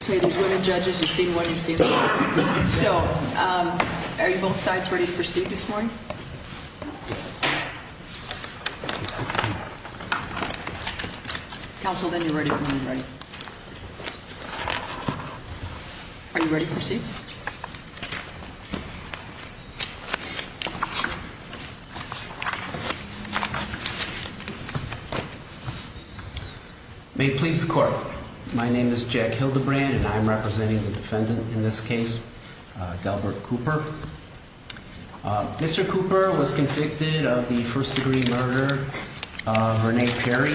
say these women judges you've seen one you've seen so um are you both sides ready to proceed this morning counsel then you're ready when you're ready to proceed. May please the court. My name is Jack Hildebrandt and I'm representing the defendant in this case. Mr. Cooper was convicted of the first degree murder of Renee Perry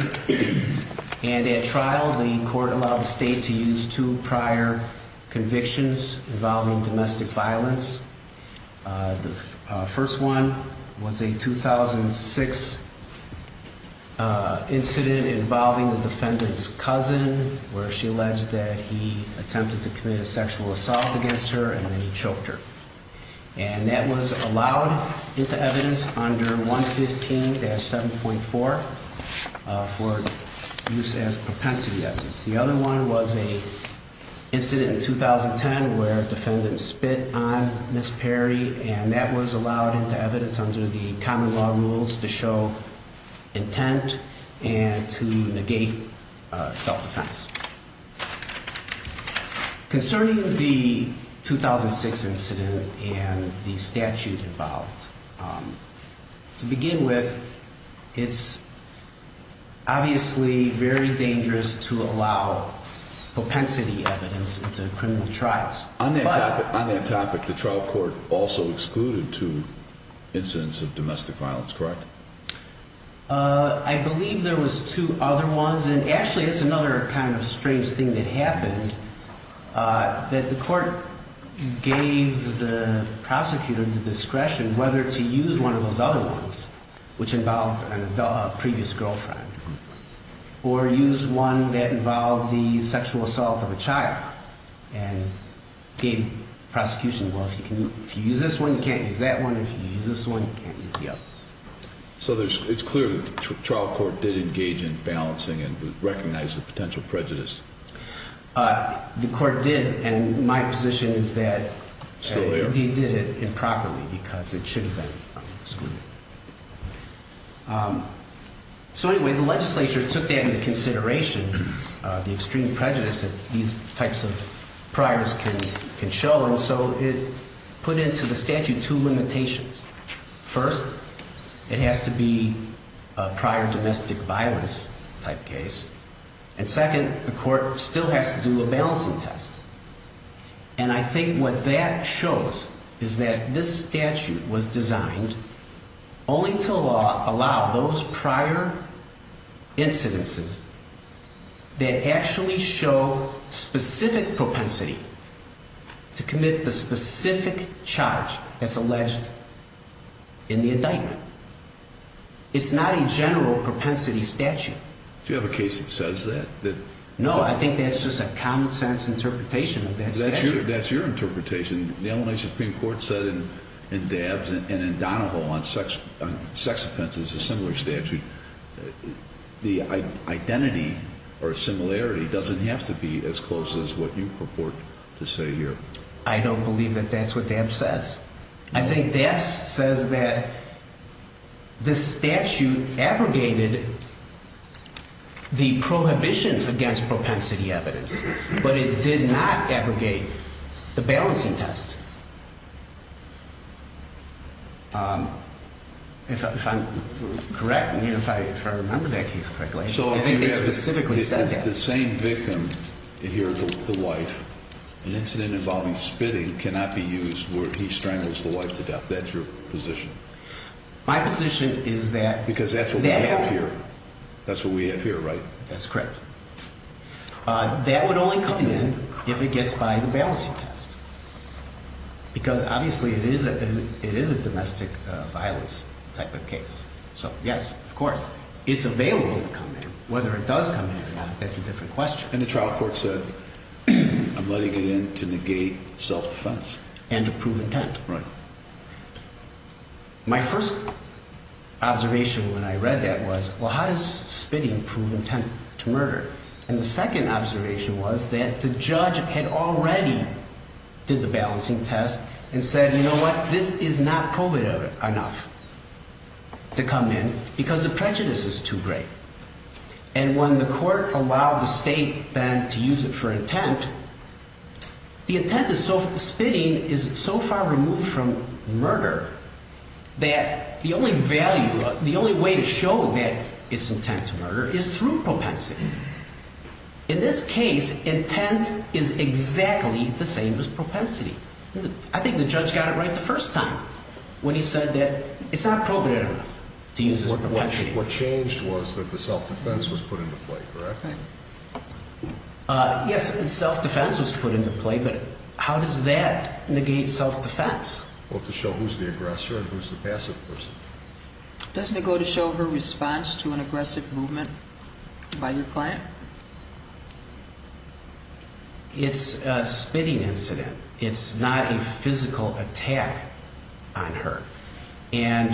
and at trial the court allowed the state to use two prior convictions involving the defendant. The first one was a 2006. Incident involving the defendant's cousin where she alleged that he attempted to commit a sexual assault against her and then he choked her. And that was allowed into evidence under 115 7.4. For use as propensity evidence. The other one was a. 2010 where defendants spit on Miss Perry and that was allowed into evidence under the common law rules to show intent and to negate self-defense. Concerning the 2006 incident and the statute involved. To begin with, it's. Obviously very dangerous to allow propensity evidence into criminal trials. On that topic, the trial court also excluded two incidents of domestic violence, correct? I believe there was two other ones and actually it's another kind of strange thing that happened. That the court gave the prosecutor the discretion whether to use one of those other ones. Which involved an adult previous girlfriend. Or use one that involved the sexual assault of a child and gave prosecution. Well, if you use this one, you can't use that one. If you use this one, you can't use the other. So it's clear that the trial court did engage in balancing and recognize the potential prejudice. The court did, and my position is that he did it improperly because it should have been excluded. So anyway, the legislature took that into consideration, the extreme prejudice that these types of priors can show. And so it put into the statute two limitations. First, it has to be. A prior domestic violence type case. And second, the court still has to do a balancing test. And I think what that shows is that this statute was designed only to allow those prior incidences. That actually show specific propensity to commit the specific charge that's alleged in the indictment. It's not a general propensity statute. Do you have a case that says that? No, I think that's just a common sense interpretation of that statute. That's your interpretation. The Illinois Supreme Court said in Dabbs and in Donoho on sex offenses a similar statute. The identity or similarity doesn't have to be as close as what you purport to say here. I don't believe that that's what Dabbs says. I think Dabbs says that the statute abrogated the prohibition against propensity evidence, but it did not abrogate the balancing test. If I'm correct, if I remember that case correctly, the same victim here, the wife, an incident involving spitting cannot be used where he strangles the wife to death. That's your position. Because that's what we have here. That's what we have here, right? That's correct. That would only come in if it gets by the balancing test. Because obviously it is a domestic violence type of case. So, yes, of course, it's available to come in. Whether it does come in or not, that's a different question. And the trial court said, I'm letting it in to negate self-defense. And to prove intent. My first observation when I read that was, well, how does spitting prove intent to murder? And the second observation was that the judge had already did the balancing test and said, you know what, this is not probative enough to come in because the prejudice is too great. And when the court allowed the state then to use it for intent, the intent of spitting is so far removed from murder that the only value, the only way to show that it's intent to murder is through propensity. In this case, intent is exactly the same as propensity. I think the judge got it right the first time when he said that it's not probative enough to use this propensity. What changed was that the self-defense was put into play, correct? Yes, self-defense was put into play, but how does that negate self-defense? Well, to show who's the aggressor and who's the passive person. Doesn't it go to show her response to an aggressive movement by your client? It's a spitting incident. It's not a physical attack on her. And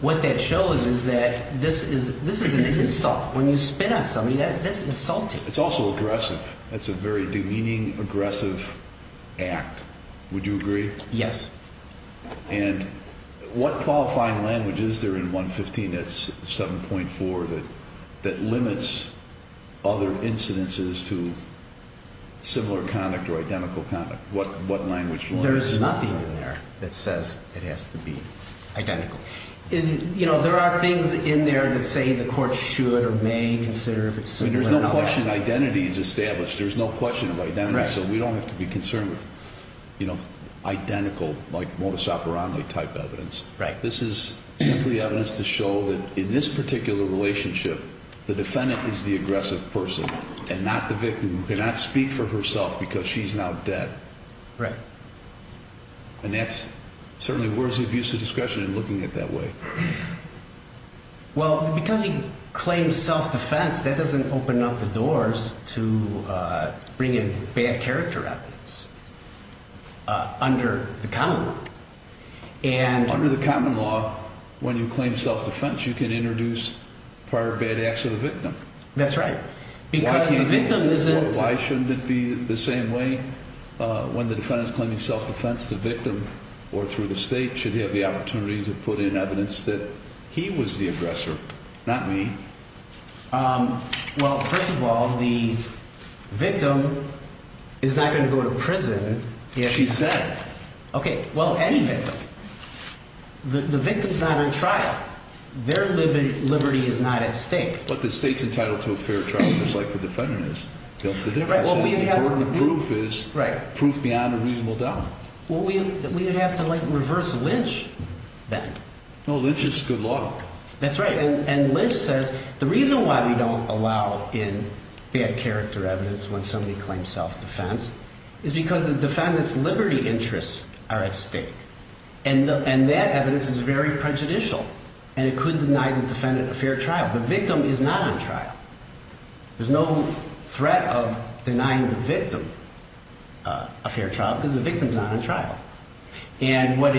what that shows is that this is an insult. When you spit on somebody, that's insulting. It's also aggressive. That's a very demeaning, aggressive act. Would you agree? Yes. And what qualifying language is there in 115.7.4 that limits other incidences to similar conduct or identical conduct? There's nothing in there that says it has to be identical. There are things in there that say the court should or may consider if it's similar or not. There's no question identity is established. There's no question of identity. So we don't have to be concerned with identical, like, Motusaperani-type evidence. This is simply evidence to show that in this particular relationship, the defendant is the aggressive person and not the victim who cannot speak for herself because she's now dead. And that's certainly worthy of use of discretion in looking at it that way. Well, because he claims self-defense, that doesn't open up the doors to bringing bad character evidence under the common law. Under the common law, when you claim self-defense, you can introduce prior bad acts of the victim. That's right. Why shouldn't it be the same way when the defendant is claiming self-defense? The defense, the victim, or through the state, should have the opportunity to put in evidence that he was the aggressor, not me. Well, first of all, the victim is not going to go to prison. She's dead. Okay. Well, anyway, the victim's not on trial. Their liberty is not at stake. But the state's entitled to a fair trial, just like the defendant is. The difference is the burden of proof is proof beyond a reasonable doubt. Well, we would have to reverse Lynch, then. No, Lynch is good law. That's right. And Lynch says the reason why we don't allow in bad character evidence when somebody claims self-defense is because the defendant's liberty interests are at stake. And that evidence is very prejudicial, and it could deny the defendant a fair trial. The victim is not on trial. There's no threat of denying the victim a fair trial because the victim's not on trial. And what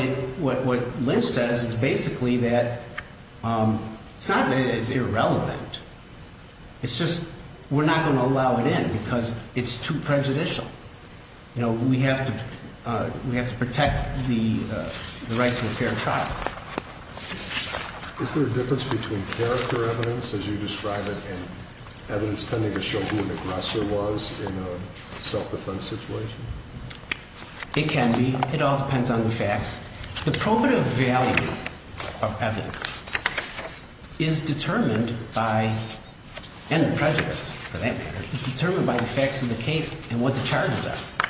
Lynch says is basically that it's not that it's irrelevant. It's just we're not going to allow it in because it's too prejudicial. You know, we have to protect the right to a fair trial. Is there a difference between character evidence, as you describe it, and evidence tending to show who an aggressor was in a self-defense situation? It can be. It all depends on the facts. The probative value of evidence is determined by, and the prejudice, for that matter, is determined by the facts of the case and what the charges are.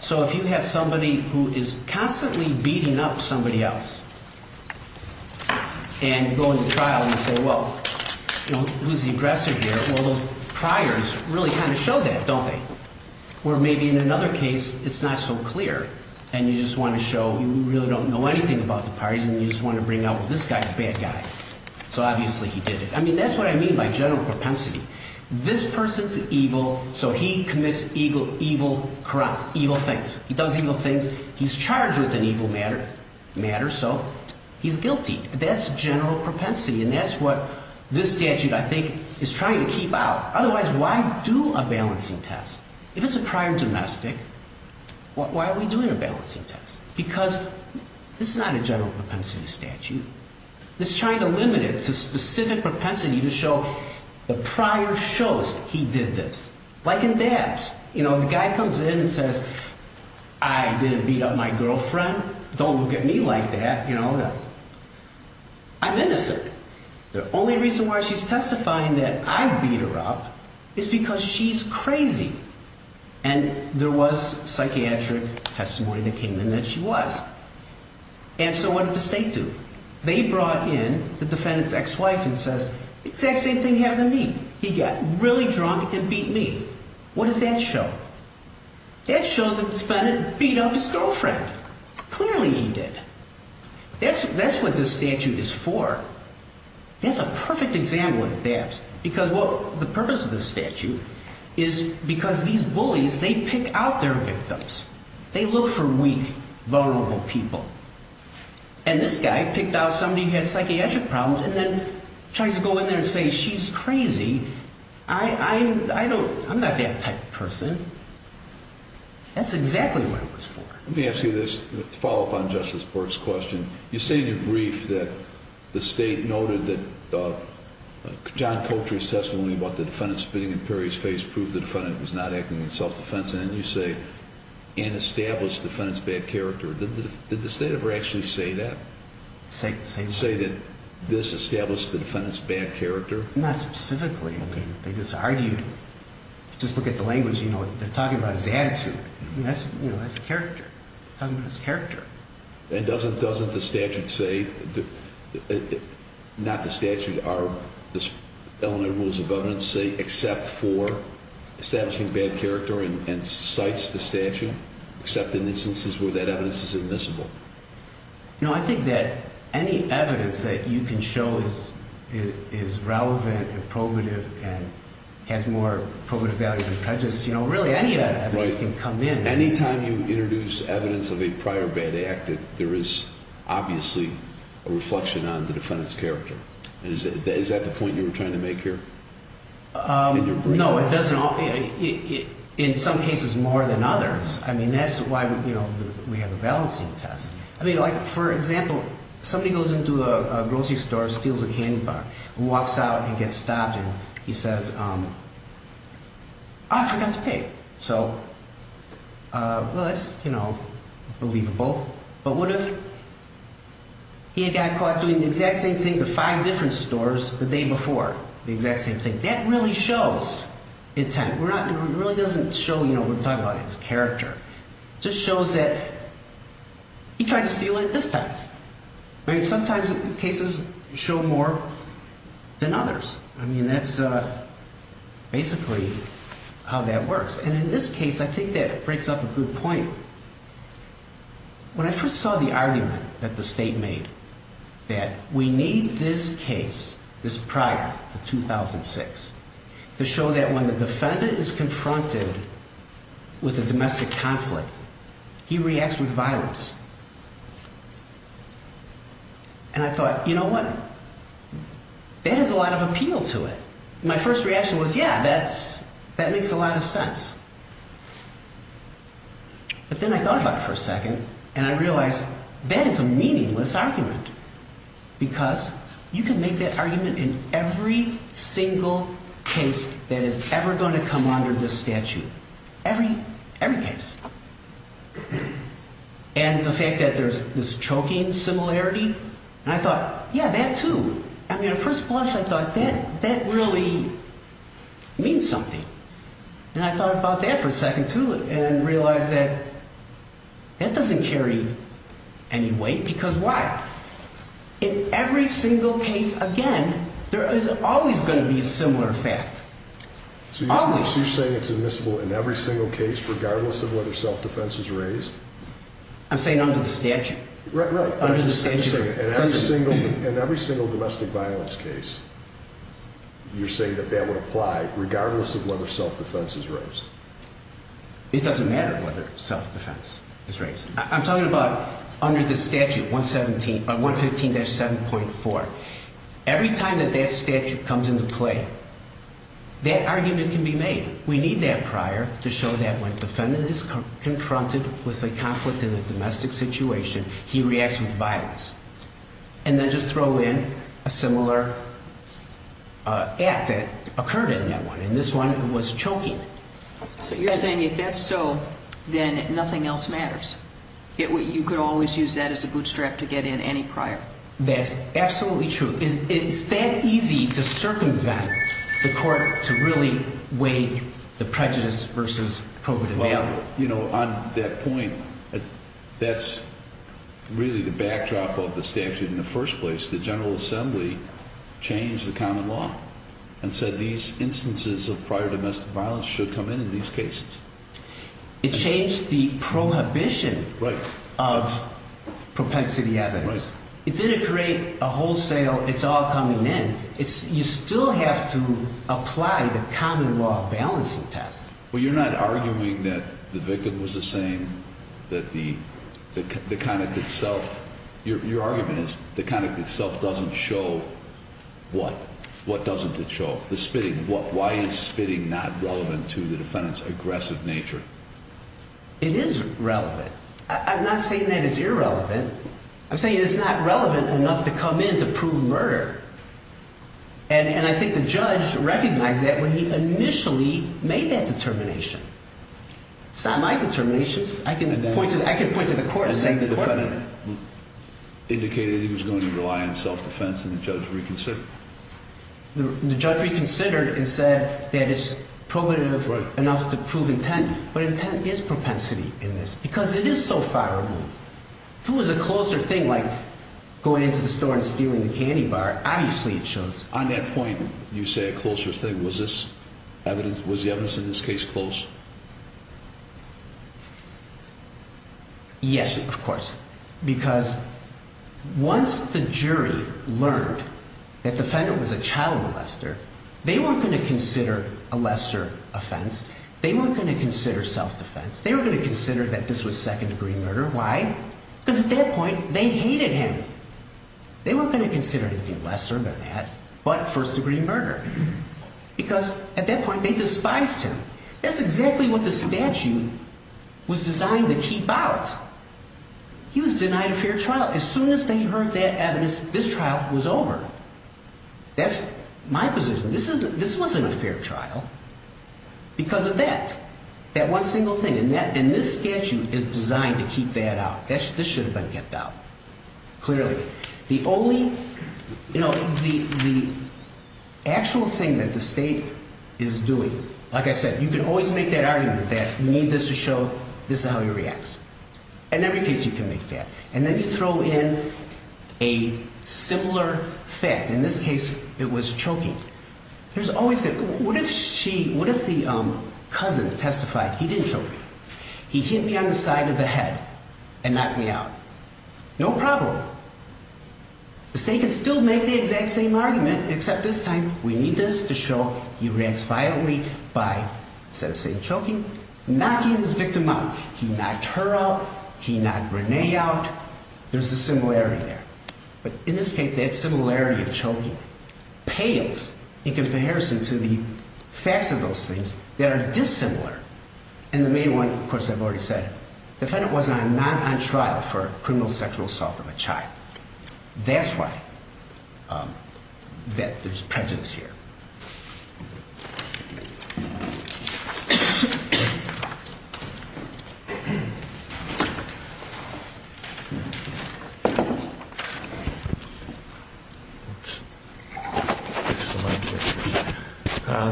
So if you have somebody who is constantly beating up somebody else and going to trial, and you say, well, who's the aggressor here? Well, those priors really kind of show that, don't they? Or maybe in another case, it's not so clear, and you just want to show you really don't know anything about the parties, and you just want to bring up, well, this guy's a bad guy. So obviously he did it. I mean, that's what I mean by general propensity. This person's evil, so he commits evil things. He does evil things. He's charged with an evil matter, so he's guilty. That's general propensity, and that's what this statute, I think, is trying to keep out. Otherwise, why do a balancing test? If it's a prior domestic, why are we doing a balancing test? Because this is not a general propensity statute. It's trying to limit it to specific propensity to show the prior shows he did this, like in dabs. You know, the guy comes in and says, I didn't beat up my girlfriend. Don't look at me like that. You know, I'm innocent. The only reason why she's testifying that I beat her up is because she's crazy, and there was psychiatric testimony that came in that she was. And so what did the state do? They brought in the defendant's ex-wife and says the exact same thing happened to me. He got really drunk and beat me. What does that show? That shows the defendant beat up his girlfriend. Clearly he did. That's what this statute is for. That's a perfect example of dabs. Because the purpose of this statute is because these bullies, they pick out their victims. They look for weak, vulnerable people. And this guy picked out somebody who had psychiatric problems and then tries to go in there and say she's crazy. I'm not that type of person. That's exactly what it was for. Let me ask you this to follow up on Justice Bork's question. You say in your brief that the state noted that John Cotre's testimony about the defendant spitting in Perry's face proved the defendant was not acting in self-defense. And then you say, and established the defendant's bad character. Did the state ever actually say that? Say what? Say that this established the defendant's bad character? Not specifically. They just argued. Just look at the language. They're talking about his attitude. That's character. Talking about his character. And doesn't the statute say, not the statute, except for establishing bad character and cites the statute, except in instances where that evidence is admissible? No, I think that any evidence that you can show is relevant and probative and has more probative value than prejudice, really any of that evidence can come in. Anytime you introduce evidence of a prior bad act, there is obviously a reflection on the defendant's character. Is that the point you were trying to make here? No, it doesn't. In some cases more than others. I mean, that's why, you know, we have the balancing test. I mean, like, for example, somebody goes into a grocery store, steals a candy bar, walks out and gets stopped, and he says, I forgot to pay. So, well, that's, you know, believable. But what if he got caught doing the exact same thing to five different stores the day before? The exact same thing. That really shows intent. It really doesn't show, you know, we're talking about his character. It just shows that he tried to steal it this time. I mean, sometimes cases show more than others. I mean, that's basically how that works. And in this case, I think that breaks up a good point. When I first saw the argument that the state made that we need this case, this prior, the 2006, to show that when the defendant is confronted with a domestic conflict, he reacts with violence. And I thought, you know what? That has a lot of appeal to it. My first reaction was, yeah, that makes a lot of sense. But then I thought about it for a second, and I realized that is a meaningless argument. Because you can make that argument in every single case that is ever going to come under this statute. Every case. And the fact that there's this choking similarity, and I thought, yeah, that too. I mean, at first blush, I thought that really means something. And I thought about that for a second, too, and realized that that doesn't carry any weight. Because why? In every single case, again, there is always going to be a similar fact. Always. So you're saying it's admissible in every single case, regardless of whether self-defense is raised? I'm saying under the statute. Right, right. Under the statute. In every single domestic violence case, you're saying that that would apply, regardless of whether self-defense is raised? It doesn't matter whether self-defense is raised. I'm talking about under the statute, 115-7.4. Every time that that statute comes into play, that argument can be made. We need that prior to show that when a defendant is confronted with a conflict in a domestic situation, he reacts with violence. And then just throw in a similar act that occurred in that one. In this one, it was choking. So you're saying if that's so, then nothing else matters? You could always use that as a bootstrap to get in any prior? That's absolutely true. It's that easy to circumvent the court to really weigh the prejudice versus probative value. On that point, that's really the backdrop of the statute in the first place. The General Assembly changed the common law and said these instances of prior domestic violence should come in in these cases. It changed the prohibition of propensity evidence. It didn't create a wholesale it's all coming in. You still have to apply the common law balancing test. Well, you're not arguing that the victim was the same, that the conduct itself? Your argument is the conduct itself doesn't show what? What doesn't it show? The spitting. Why is spitting not relevant to the defendant's aggressive nature? It is relevant. I'm not saying that it's irrelevant. I'm saying it's not relevant enough to come in to prove murder. And I think the judge recognized that when he initially made that determination. It's not my determination. I can point to the court and say the court made it. The defendant indicated he was going to rely on self-defense and the judge reconsidered. The judge reconsidered and said that it's probative enough to prove intent, but intent is propensity in this because it is so far removed. If it was a closer thing like going into the store and stealing the candy bar, obviously it shows. On that point, you say a closer thing. Was the evidence in this case close? Yes, of course. Because once the jury learned that the defendant was a child molester, they weren't going to consider a lesser offense. They weren't going to consider self-defense. They were going to consider that this was second-degree murder. Why? Because at that point, they hated him. They weren't going to consider anything lesser than that but first-degree murder. Because at that point, they despised him. That's exactly what the statute was designed to keep out. He was denied a fair trial. As soon as they heard that evidence, this trial was over. That's my position. This wasn't a fair trial because of that. That one single thing. And this statute is designed to keep that out. This should have been kept out. Clearly. The only, you know, the actual thing that the state is doing, like I said, you can always make that argument that you need this to show this is how he reacts. In every case, you can make that. And then you throw in a similar fact. In this case, it was choking. What if the cousin testified he didn't choke me? He hit me on the side of the head and knocked me out. No problem. The state can still make the exact same argument except this time we need this to show he reacts violently by, instead of choking, knocking his victim out. He knocked her out. He knocked Renee out. There's a similarity there. But in this case, that similarity of choking pales in comparison to the facts of those things that are dissimilar. And the main one, of course, I've already said, the defendant was not on trial for criminal sexual assault of a child. That's why there's prejudice here.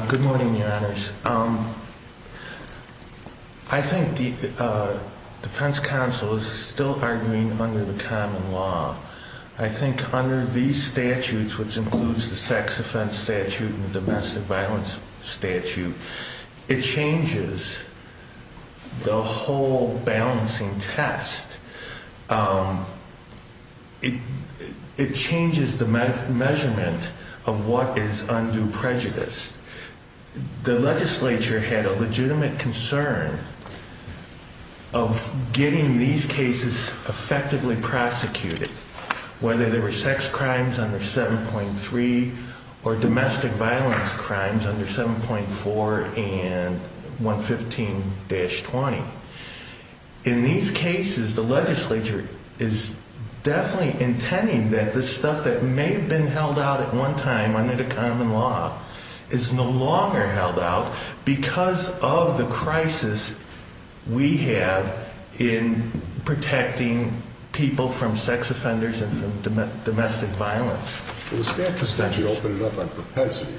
Good morning, Your Honors. I think the defense counsel is still arguing under the common law. I think under these statutes, which includes the sex offense statute and the domestic violence statute, it changes the whole balancing test. It changes the measurement of what is undue prejudice. The legislature had a legitimate concern of getting these cases effectively prosecuted, whether they were sex crimes under 7.3 or domestic violence crimes under 7.4 and 115-20. In these cases, the legislature is definitely intending that the stuff that may have been held out at one time under the common law is no longer held out because of the crisis we have in protecting people from sex offenders and from domestic violence. Well, the statute opened it up on propensity,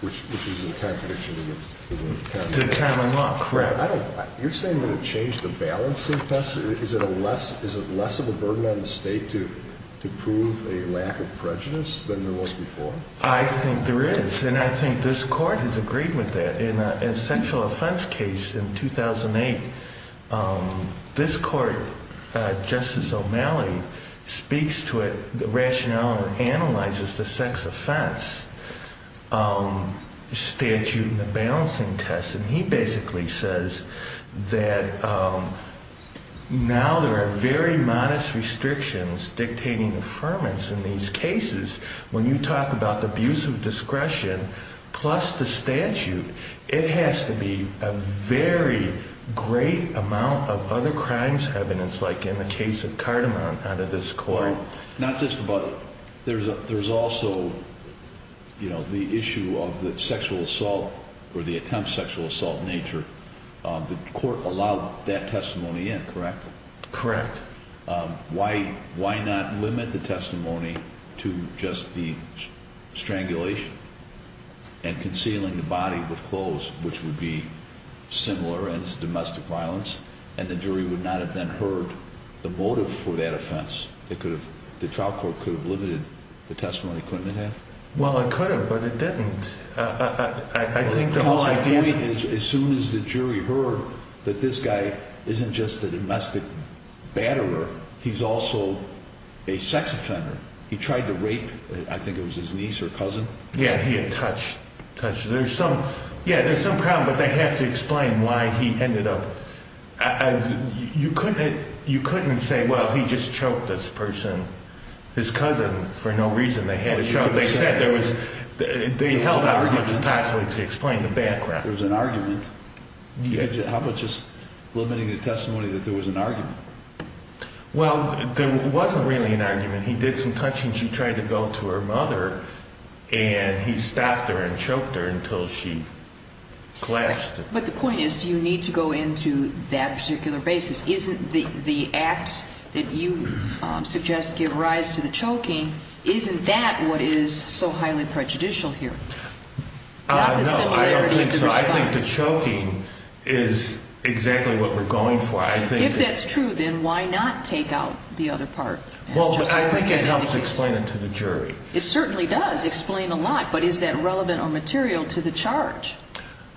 which is in contradiction to the common law. To the common law, correct. You're saying that it changed the balancing test? Is it less of a burden on the state to prove a lack of prejudice than there was before? I think there is, and I think this court has agreed with that. In a sexual offense case in 2008, this court, Justice O'Malley, speaks to it, the rationale, and analyzes the sex offense statute and the balancing test. He basically says that now there are very modest restrictions dictating affirmance in these cases. When you talk about the abuse of discretion plus the statute, it has to be a very great amount of other crimes evidence, like in the case of Cardamom, out of this court. There's also the issue of the sexual assault or the attempt sexual assault nature. The court allowed that testimony in, correct? Correct. Why not limit the testimony to just the strangulation and concealing the body with clothes, which would be similar as domestic violence, and the jury would not have then heard the motive for that offense? The trial court could have limited the testimony, couldn't it have? Well, it could have, but it didn't. As soon as the jury heard that this guy isn't just a domestic batterer, he's also a sex offender. He tried to rape, I think it was his niece or cousin. Yeah, he had touched. Yeah, there's some problem, but they have to explain why he ended up. You couldn't say, well, he just choked this person. His cousin, for no reason, they had a show. They held out as much as possible to explain the background. There was an argument. How about just limiting the testimony that there was an argument? Well, there wasn't really an argument. He did some touching. She tried to go to her mother, and he stopped her and choked her until she collapsed. But the point is, do you need to go into that particular basis? Isn't the act that you suggest give rise to the choking, isn't that what is so highly prejudicial here? No, I don't think so. I think the choking is exactly what we're going for. If that's true, then why not take out the other part? Well, I think it helps explain it to the jury. It certainly does explain a lot, but is that relevant or material to the charge?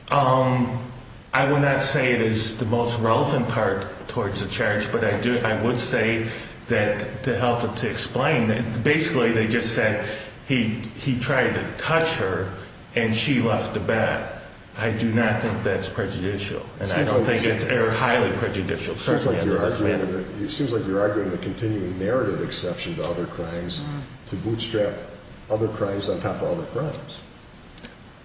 I would not say it is the most relevant part towards the charge, but I would say that to help it to explain, basically they just said he tried to touch her and she left the bed. I do not think that's prejudicial, and I don't think it's highly prejudicial. It seems like you're arguing the continuing narrative exception to other crimes to bootstrap other crimes on top of other crimes.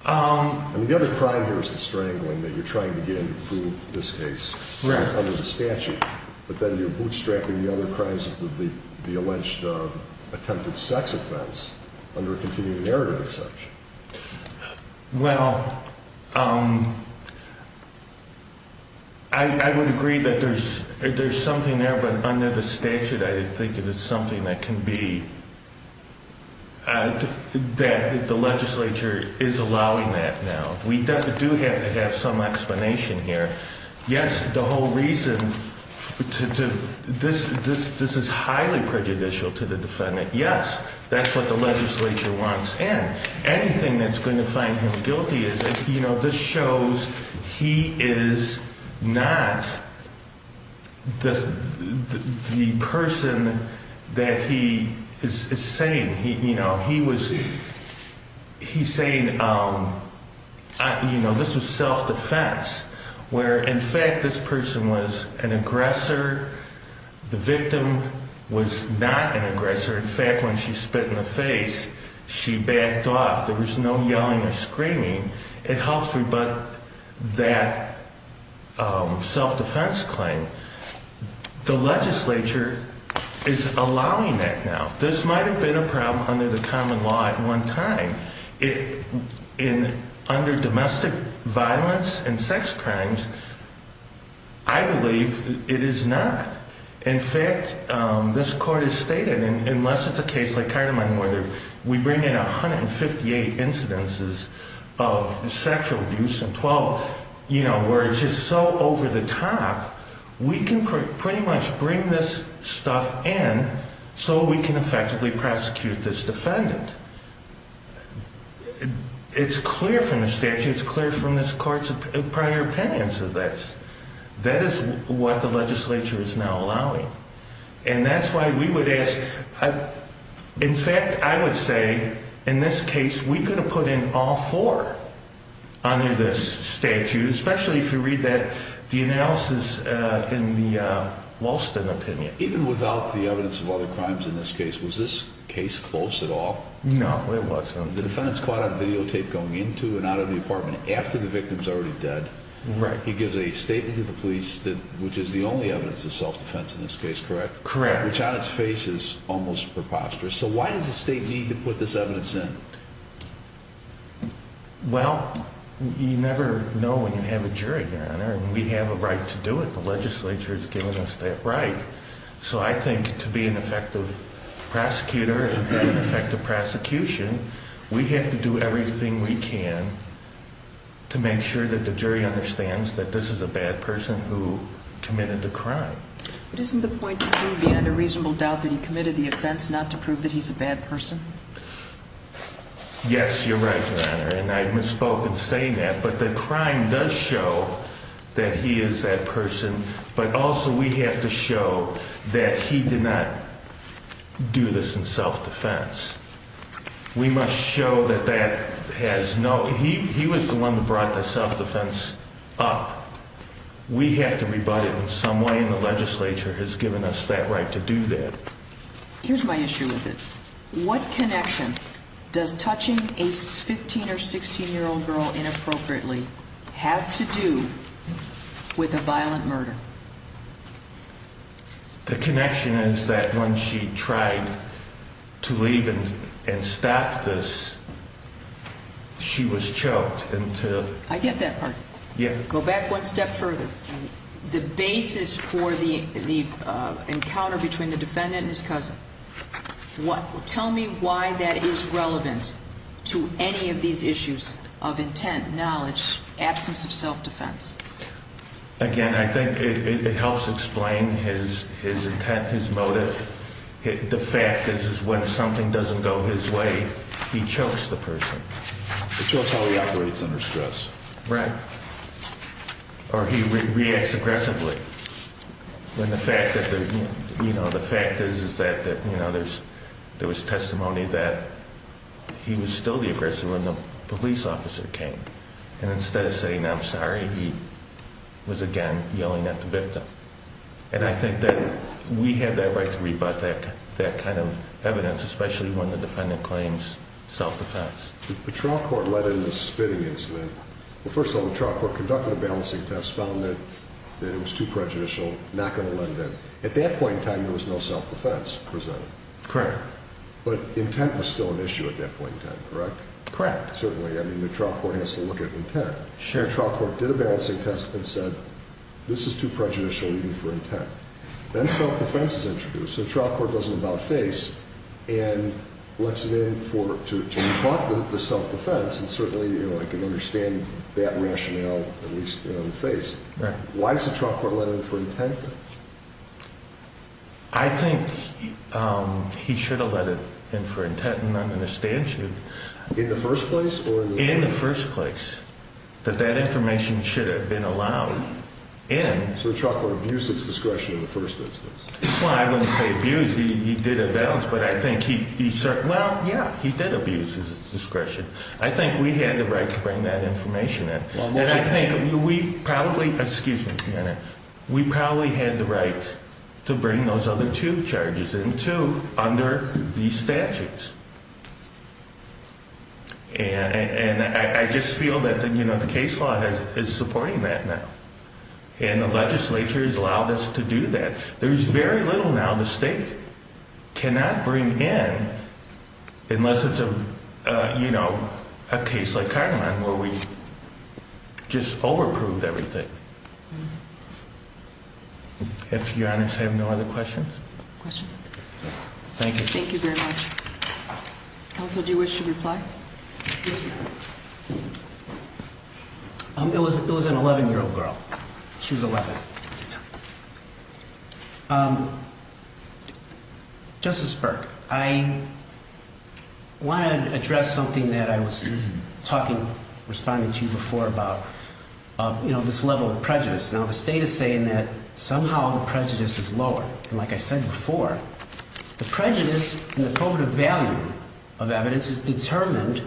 The other crime here is the strangling, that you're trying to get him to prove this case under the statute, but then you're bootstrapping the other crimes with the alleged attempted sex offense under a continuing narrative exception. Well, I would agree that there's something there, but under the statute, I think it is something that can be, that the legislature is allowing that now. We do have to have some explanation here. Yes, the whole reason, this is highly prejudicial to the defendant. Yes, that's what the legislature wants, and anything that's going to find him guilty, this shows he is not the person that he is saying. He's saying this was self-defense, where in fact this person was an aggressor. The victim was not an aggressor. In fact, when she spit in the face, she backed off. There was no yelling or screaming. It helps rebut that self-defense claim. The legislature is allowing that now. This might have been a problem under the common law at one time. Under domestic violence and sex crimes, I believe it is not. In fact, this court has stated, and unless it's a case like Kahrneman murder, we bring in 158 incidences of sexual abuse and 12 where it's just so over the top, we can pretty much bring this stuff in so we can effectively prosecute this defendant. It's clear from the statute. It's clear from this court's prior opinions of this. That is what the legislature is now allowing. That's why we would ask. In fact, I would say in this case we could have put in all four under this statute, especially if you read the analysis in the Walston opinion. Even without the evidence of other crimes in this case, was this case closed at all? No, it wasn't. The defendant's caught on videotape going into and out of the apartment after the victim's already dead. He gives a statement to the police, which is the only evidence of self-defense in this case, correct? Correct. Which on its face is almost preposterous. So why does the state need to put this evidence in? Well, you never know when you have a jury, Your Honor, and we have a right to do it. The legislature has given us that right. So I think to be an effective prosecutor and effective prosecution, we have to do everything we can to make sure that the jury understands that this is a bad person who committed the crime. But isn't the point to do beyond a reasonable doubt that he committed the offense not to prove that he's a bad person? Yes, you're right, Your Honor, and I misspoke in saying that, but the crime does show that he is that person, but also we have to show that he did not do this in self-defense. We must show that he was the one who brought the self-defense up. We have to rebut it in some way, and the legislature has given us that right to do that. Here's my issue with it. What connection does touching a 15- or 16-year-old girl inappropriately have to do with a violent murder? The connection is that when she tried to leave and stop this, she was choked. I get that part. Go back one step further. The basis for the encounter between the defendant and his cousin. Tell me why that is relevant to any of these issues of intent, knowledge, absence of self-defense. Again, I think it helps explain his intent, his motive. The fact is when something doesn't go his way, he chokes the person. He chokes while he operates under stress. Right. Or he reacts aggressively. The fact is that there was testimony that he was still the aggressor when the police officer came, and instead of saying, I'm sorry, he was again yelling at the victim. I think that we have that right to rebut that kind of evidence, especially when the defendant claims self-defense. The trial court led in this spitting incident. First of all, the trial court conducted a balancing test, found that it was too prejudicial, not going to let it in. At that point in time, there was no self-defense presented. Correct. But intent was still an issue at that point in time, correct? Correct. Certainly. I mean, the trial court has to look at intent. Sure. The trial court did a balancing test and said, this is too prejudicial, even for intent. Then self-defense is introduced. The trial court does an about-face and lets it in to rebut the self-defense, and certainly I can understand that rationale, at least in the face. Right. Why does the trial court let it in for intent, though? I think he should have let it in for intent, and I understand that. In the first place? In the first place, that that information should have been allowed in. So the trial court abused its discretion in the first instance. Well, I wouldn't say abused. He did a balance, but I think he certainly – well, yeah, he did abuse his discretion. I think we had the right to bring that information in. And I think we probably – excuse me a minute. We probably had the right to bring those other two charges in, too, under these statutes. And I just feel that the case law is supporting that now, and the legislature has allowed us to do that. There is very little now the state cannot bring in, unless it's a case like Kahneman where we just over-approved everything. If Your Honor's have no other questions. Questions? Thank you. Thank you very much. Counsel, do you wish to reply? Yes, Your Honor. It was an 11-year-old girl. She was 11 at the time. Justice Burke, I want to address something that I was talking – responding to before about, you know, this level of prejudice. Now, the state is saying that somehow the prejudice is lower. And like I said before, the prejudice and the probative value of evidence is determined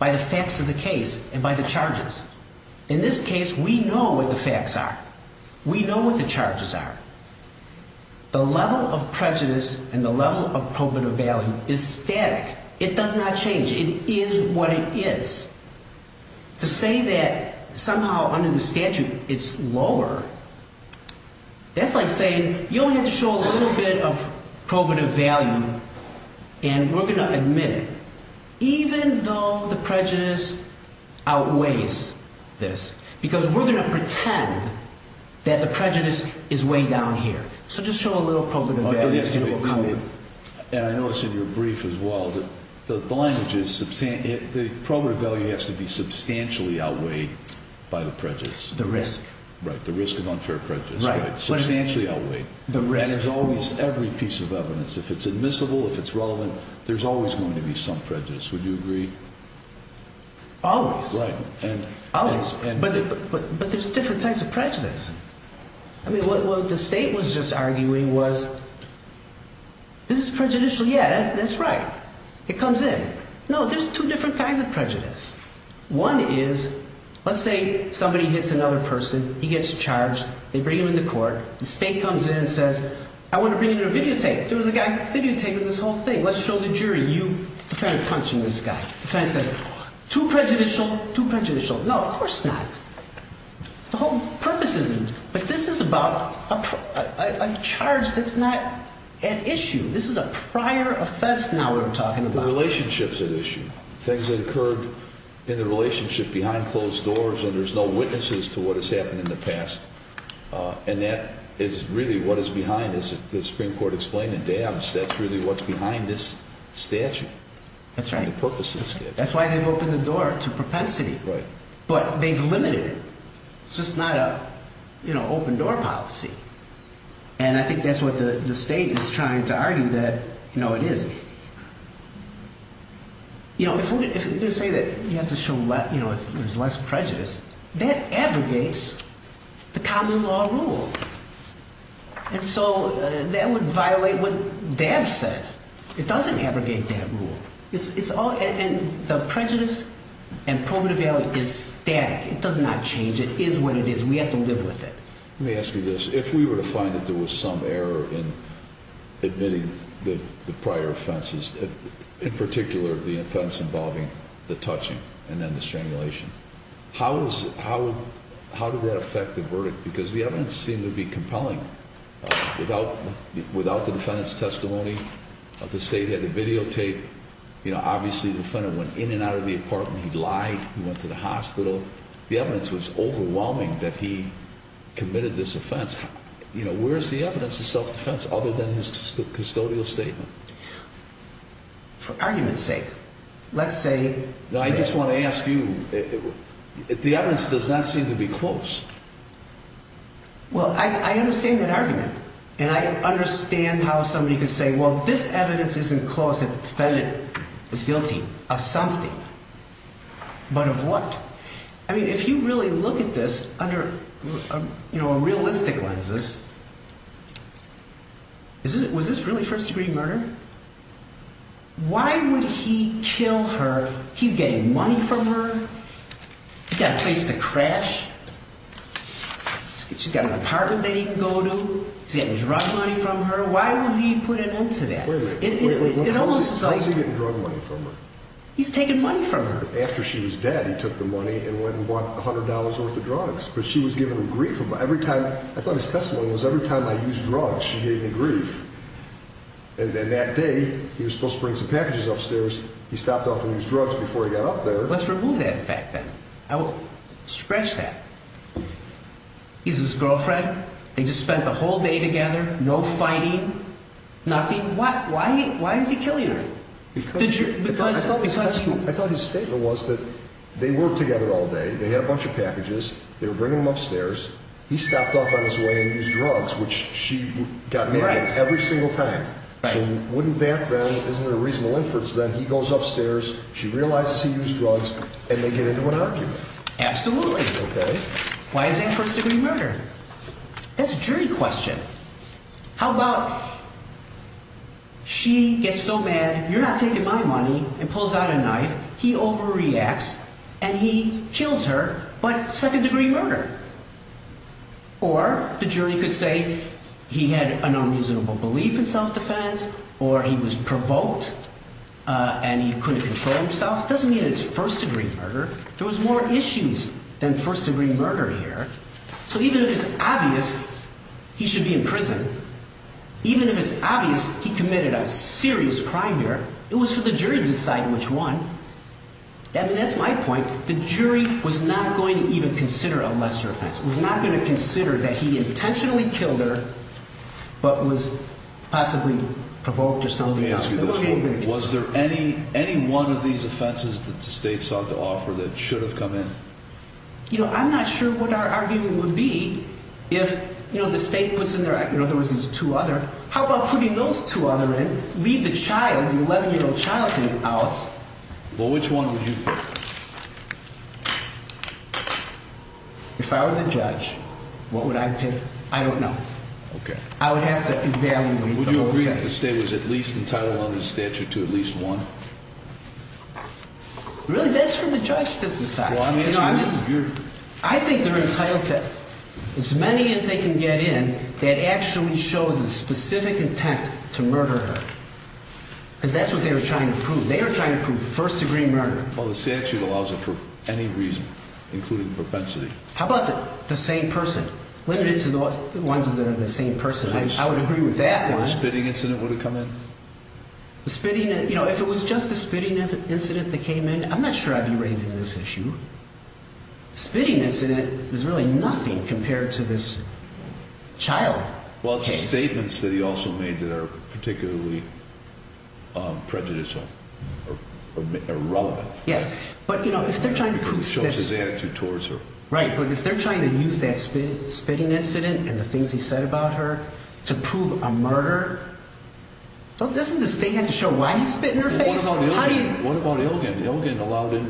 by the facts of the case and by the charges. In this case, we know what the facts are. We know what the charges are. The level of prejudice and the level of probative value is static. It does not change. It is what it is. To say that somehow under the statute it's lower, that's like saying, you only have to show a little bit of probative value and we're going to admit it, even though the prejudice outweighs this, because we're going to pretend that the prejudice is way down here. So just show a little probative value and we'll come in. And I noticed in your brief as well that the language is – the probative value has to be substantially outweighed by the prejudice. The risk. Right, the risk of unfair prejudice. Right. Substantially outweighed. The risk. And there's always every piece of evidence. If it's admissible, if it's relevant, there's always going to be some prejudice. Would you agree? Always. Right. Always. But there's different types of prejudice. I mean, what the State was just arguing was, this is prejudicial, yeah, that's right. It comes in. No, there's two different kinds of prejudice. One is, let's say somebody hits another person, he gets charged, they bring him into court, the State comes in and says, I want to bring you a videotape. There was a guy videotaping this whole thing. Let's show the jury, you kind of punching this guy. You kind of say, too prejudicial, too prejudicial. No, of course not. The whole purpose isn't. But this is about a charge that's not at issue. This is a prior offense now we're talking about. The relationship's at issue. Things occurred in the relationship behind closed doors and there's no witnesses to what has happened in the past. And that is really what is behind this. The Supreme Court explained it. That's really what's behind this statute. That's right. The purpose of the statute. That's why they've opened the door to propensity. Right. But they've limited it. It's just not an open door policy. And I think that's what the State is trying to argue that it isn't. You know, if we're going to say that you have to show less prejudice, that abrogates the common law rule. And so that would violate what Dabbs said. It doesn't abrogate that rule. And the prejudice and probative value is static. It does not change. It is what it is. We have to live with it. Let me ask you this. If we were to find that there was some error in admitting the prior offenses, in particular the offense involving the touching and then the strangulation, how does that affect the verdict? Because the evidence seemed to be compelling. Without the defendant's testimony, the State had to videotape. You know, obviously the defendant went in and out of the apartment. He lied. He went to the hospital. The evidence was overwhelming that he committed this offense. You know, where is the evidence of self-defense other than his custodial statement? For argument's sake, let's say. No, I just want to ask you. The evidence does not seem to be close. Well, I understand that argument. And I understand how somebody could say, well, this evidence isn't close that the defendant is guilty of something. But of what? I mean, if you really look at this under, you know, realistic lenses, was this really first-degree murder? Why would he kill her? He's getting money from her. He's got a place to crash. She's got an apartment that he can go to. He's getting drug money from her. Why would he put an end to that? Wait a minute. How is he getting drug money from her? He's taking money from her. After she was dead, he took the money and went and bought $100 worth of drugs. But she was giving him grief every time. I thought his testimony was every time I used drugs, she gave me grief. And then that day, he was supposed to bring some packages upstairs. He stopped off and used drugs before he got up there. Let's remove that fact then. Scratch that. He's his girlfriend. They just spent the whole day together. No fighting. Nothing. Why is he killing her? I thought his statement was that they worked together all day. They had a bunch of packages. They were bringing them upstairs. He stopped off on his way and used drugs, which she got mad at every single time. So wouldn't that then, isn't it a reasonable inference then, he goes upstairs, she realizes he used drugs, and they get into an argument? Absolutely. Okay. Why is that first-degree murder? That's a jury question. How about she gets so mad, you're not taking my money, and pulls out a knife, he overreacts, and he kills her, but second-degree murder. Or the jury could say he had an unreasonable belief in self-defense, or he was provoked, and he couldn't control himself. It doesn't mean it's first-degree murder. There was more issues than first-degree murder here. So even if it's obvious he should be in prison, even if it's obvious he committed a serious crime here, it was for the jury to decide which one. I mean, that's my point. The jury was not going to even consider a lesser offense. It was not going to consider that he intentionally killed her, but was possibly provoked or something. Let me ask you this. Was there any one of these offenses that the state sought to offer that should have come in? You know, I'm not sure what our argument would be if, you know, the state puts in there, in other words, there's two other. How about putting those two other in, leave the child, the 11-year-old child out? Well, which one would you pick? If I were the judge, what would I pick? I don't know. Okay. I would have to evaluate them. Would you agree that the state was at least entitled under the statute to at least one? Really, that's for the judge to decide. I think they're entitled to as many as they can get in that actually show the specific intent to murder her. Because that's what they were trying to prove. They were trying to prove first-degree murder. Well, the statute allows it for any reason, including propensity. How about the same person? Limited to the ones that are the same person. I would agree with that one. Or a spitting incident would have come in? You know, if it was just a spitting incident that came in, I'm not sure I'd be raising this issue. A spitting incident is really nothing compared to this child case. Well, it's a statement that he also made that are particularly prejudicial or irrelevant. Yes. But, you know, if they're trying to prove this. It shows his attitude towards her. Right. But if they're trying to use that spitting incident and the things he said about her to prove a murder, doesn't the statute have to show why he spit in her face? What about Ilgen? Ilgen allowed in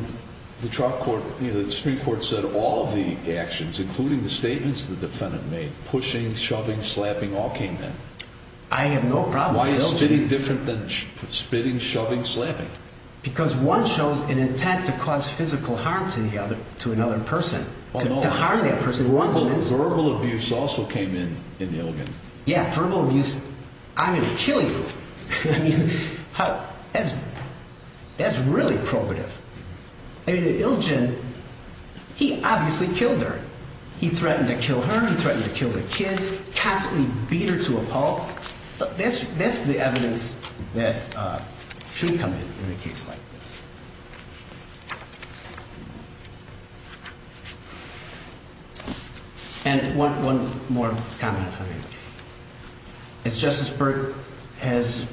the trial court, you know, the Supreme Court said all the actions, including the statements the defendant made, pushing, shoving, slapping, all came in. I have no problem with Ilgen. Why is spitting different than spitting, shoving, slapping? Because one shows an intent to cause physical harm to another person, to harm that person. Verbal abuse also came in in Ilgen. Yes, verbal abuse. I mean, killing her. I mean, that's really probative. I mean, Ilgen, he obviously killed her. He threatened to kill her. He threatened to kill the kids. Constantly beat her to a pulp. That's the evidence that should come in in a case like this. And one more comment, if I may. As Justice Burke has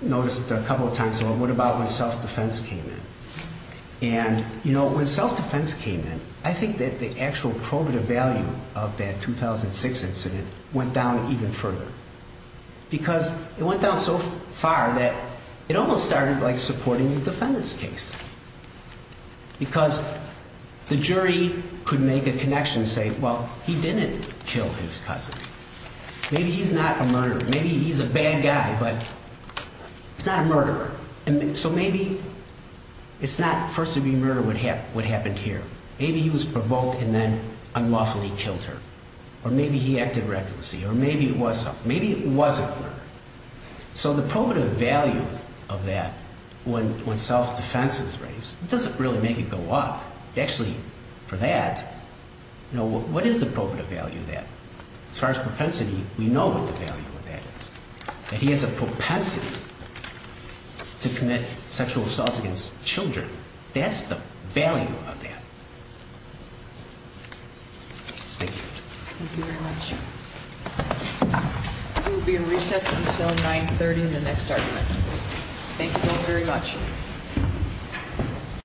noticed a couple of times, what about when self-defense came in? And, you know, when self-defense came in, I think that the actual probative value of that 2006 incident went down even further. Because it went down so far that it almost started like supporting the defendant's case. Because the jury could make a connection and say, well, he didn't kill his cousin. Maybe he's not a murderer. Maybe he's a bad guy, but he's not a murderer. So maybe it's not first-degree murder what happened here. Maybe he was provoked and then unlawfully killed her. Or maybe he acted recklessly. Or maybe it was self-defense. Maybe it was a murderer. So the probative value of that when self-defense is raised, it doesn't really make it go up. Actually, for that, what is the probative value of that? As far as propensity, we know what the value of that is. That he has a propensity to commit sexual assaults against children. That's the value of that. Thank you. Thank you very much. We will be in recess until 930 in the next argument. Thank you all very much.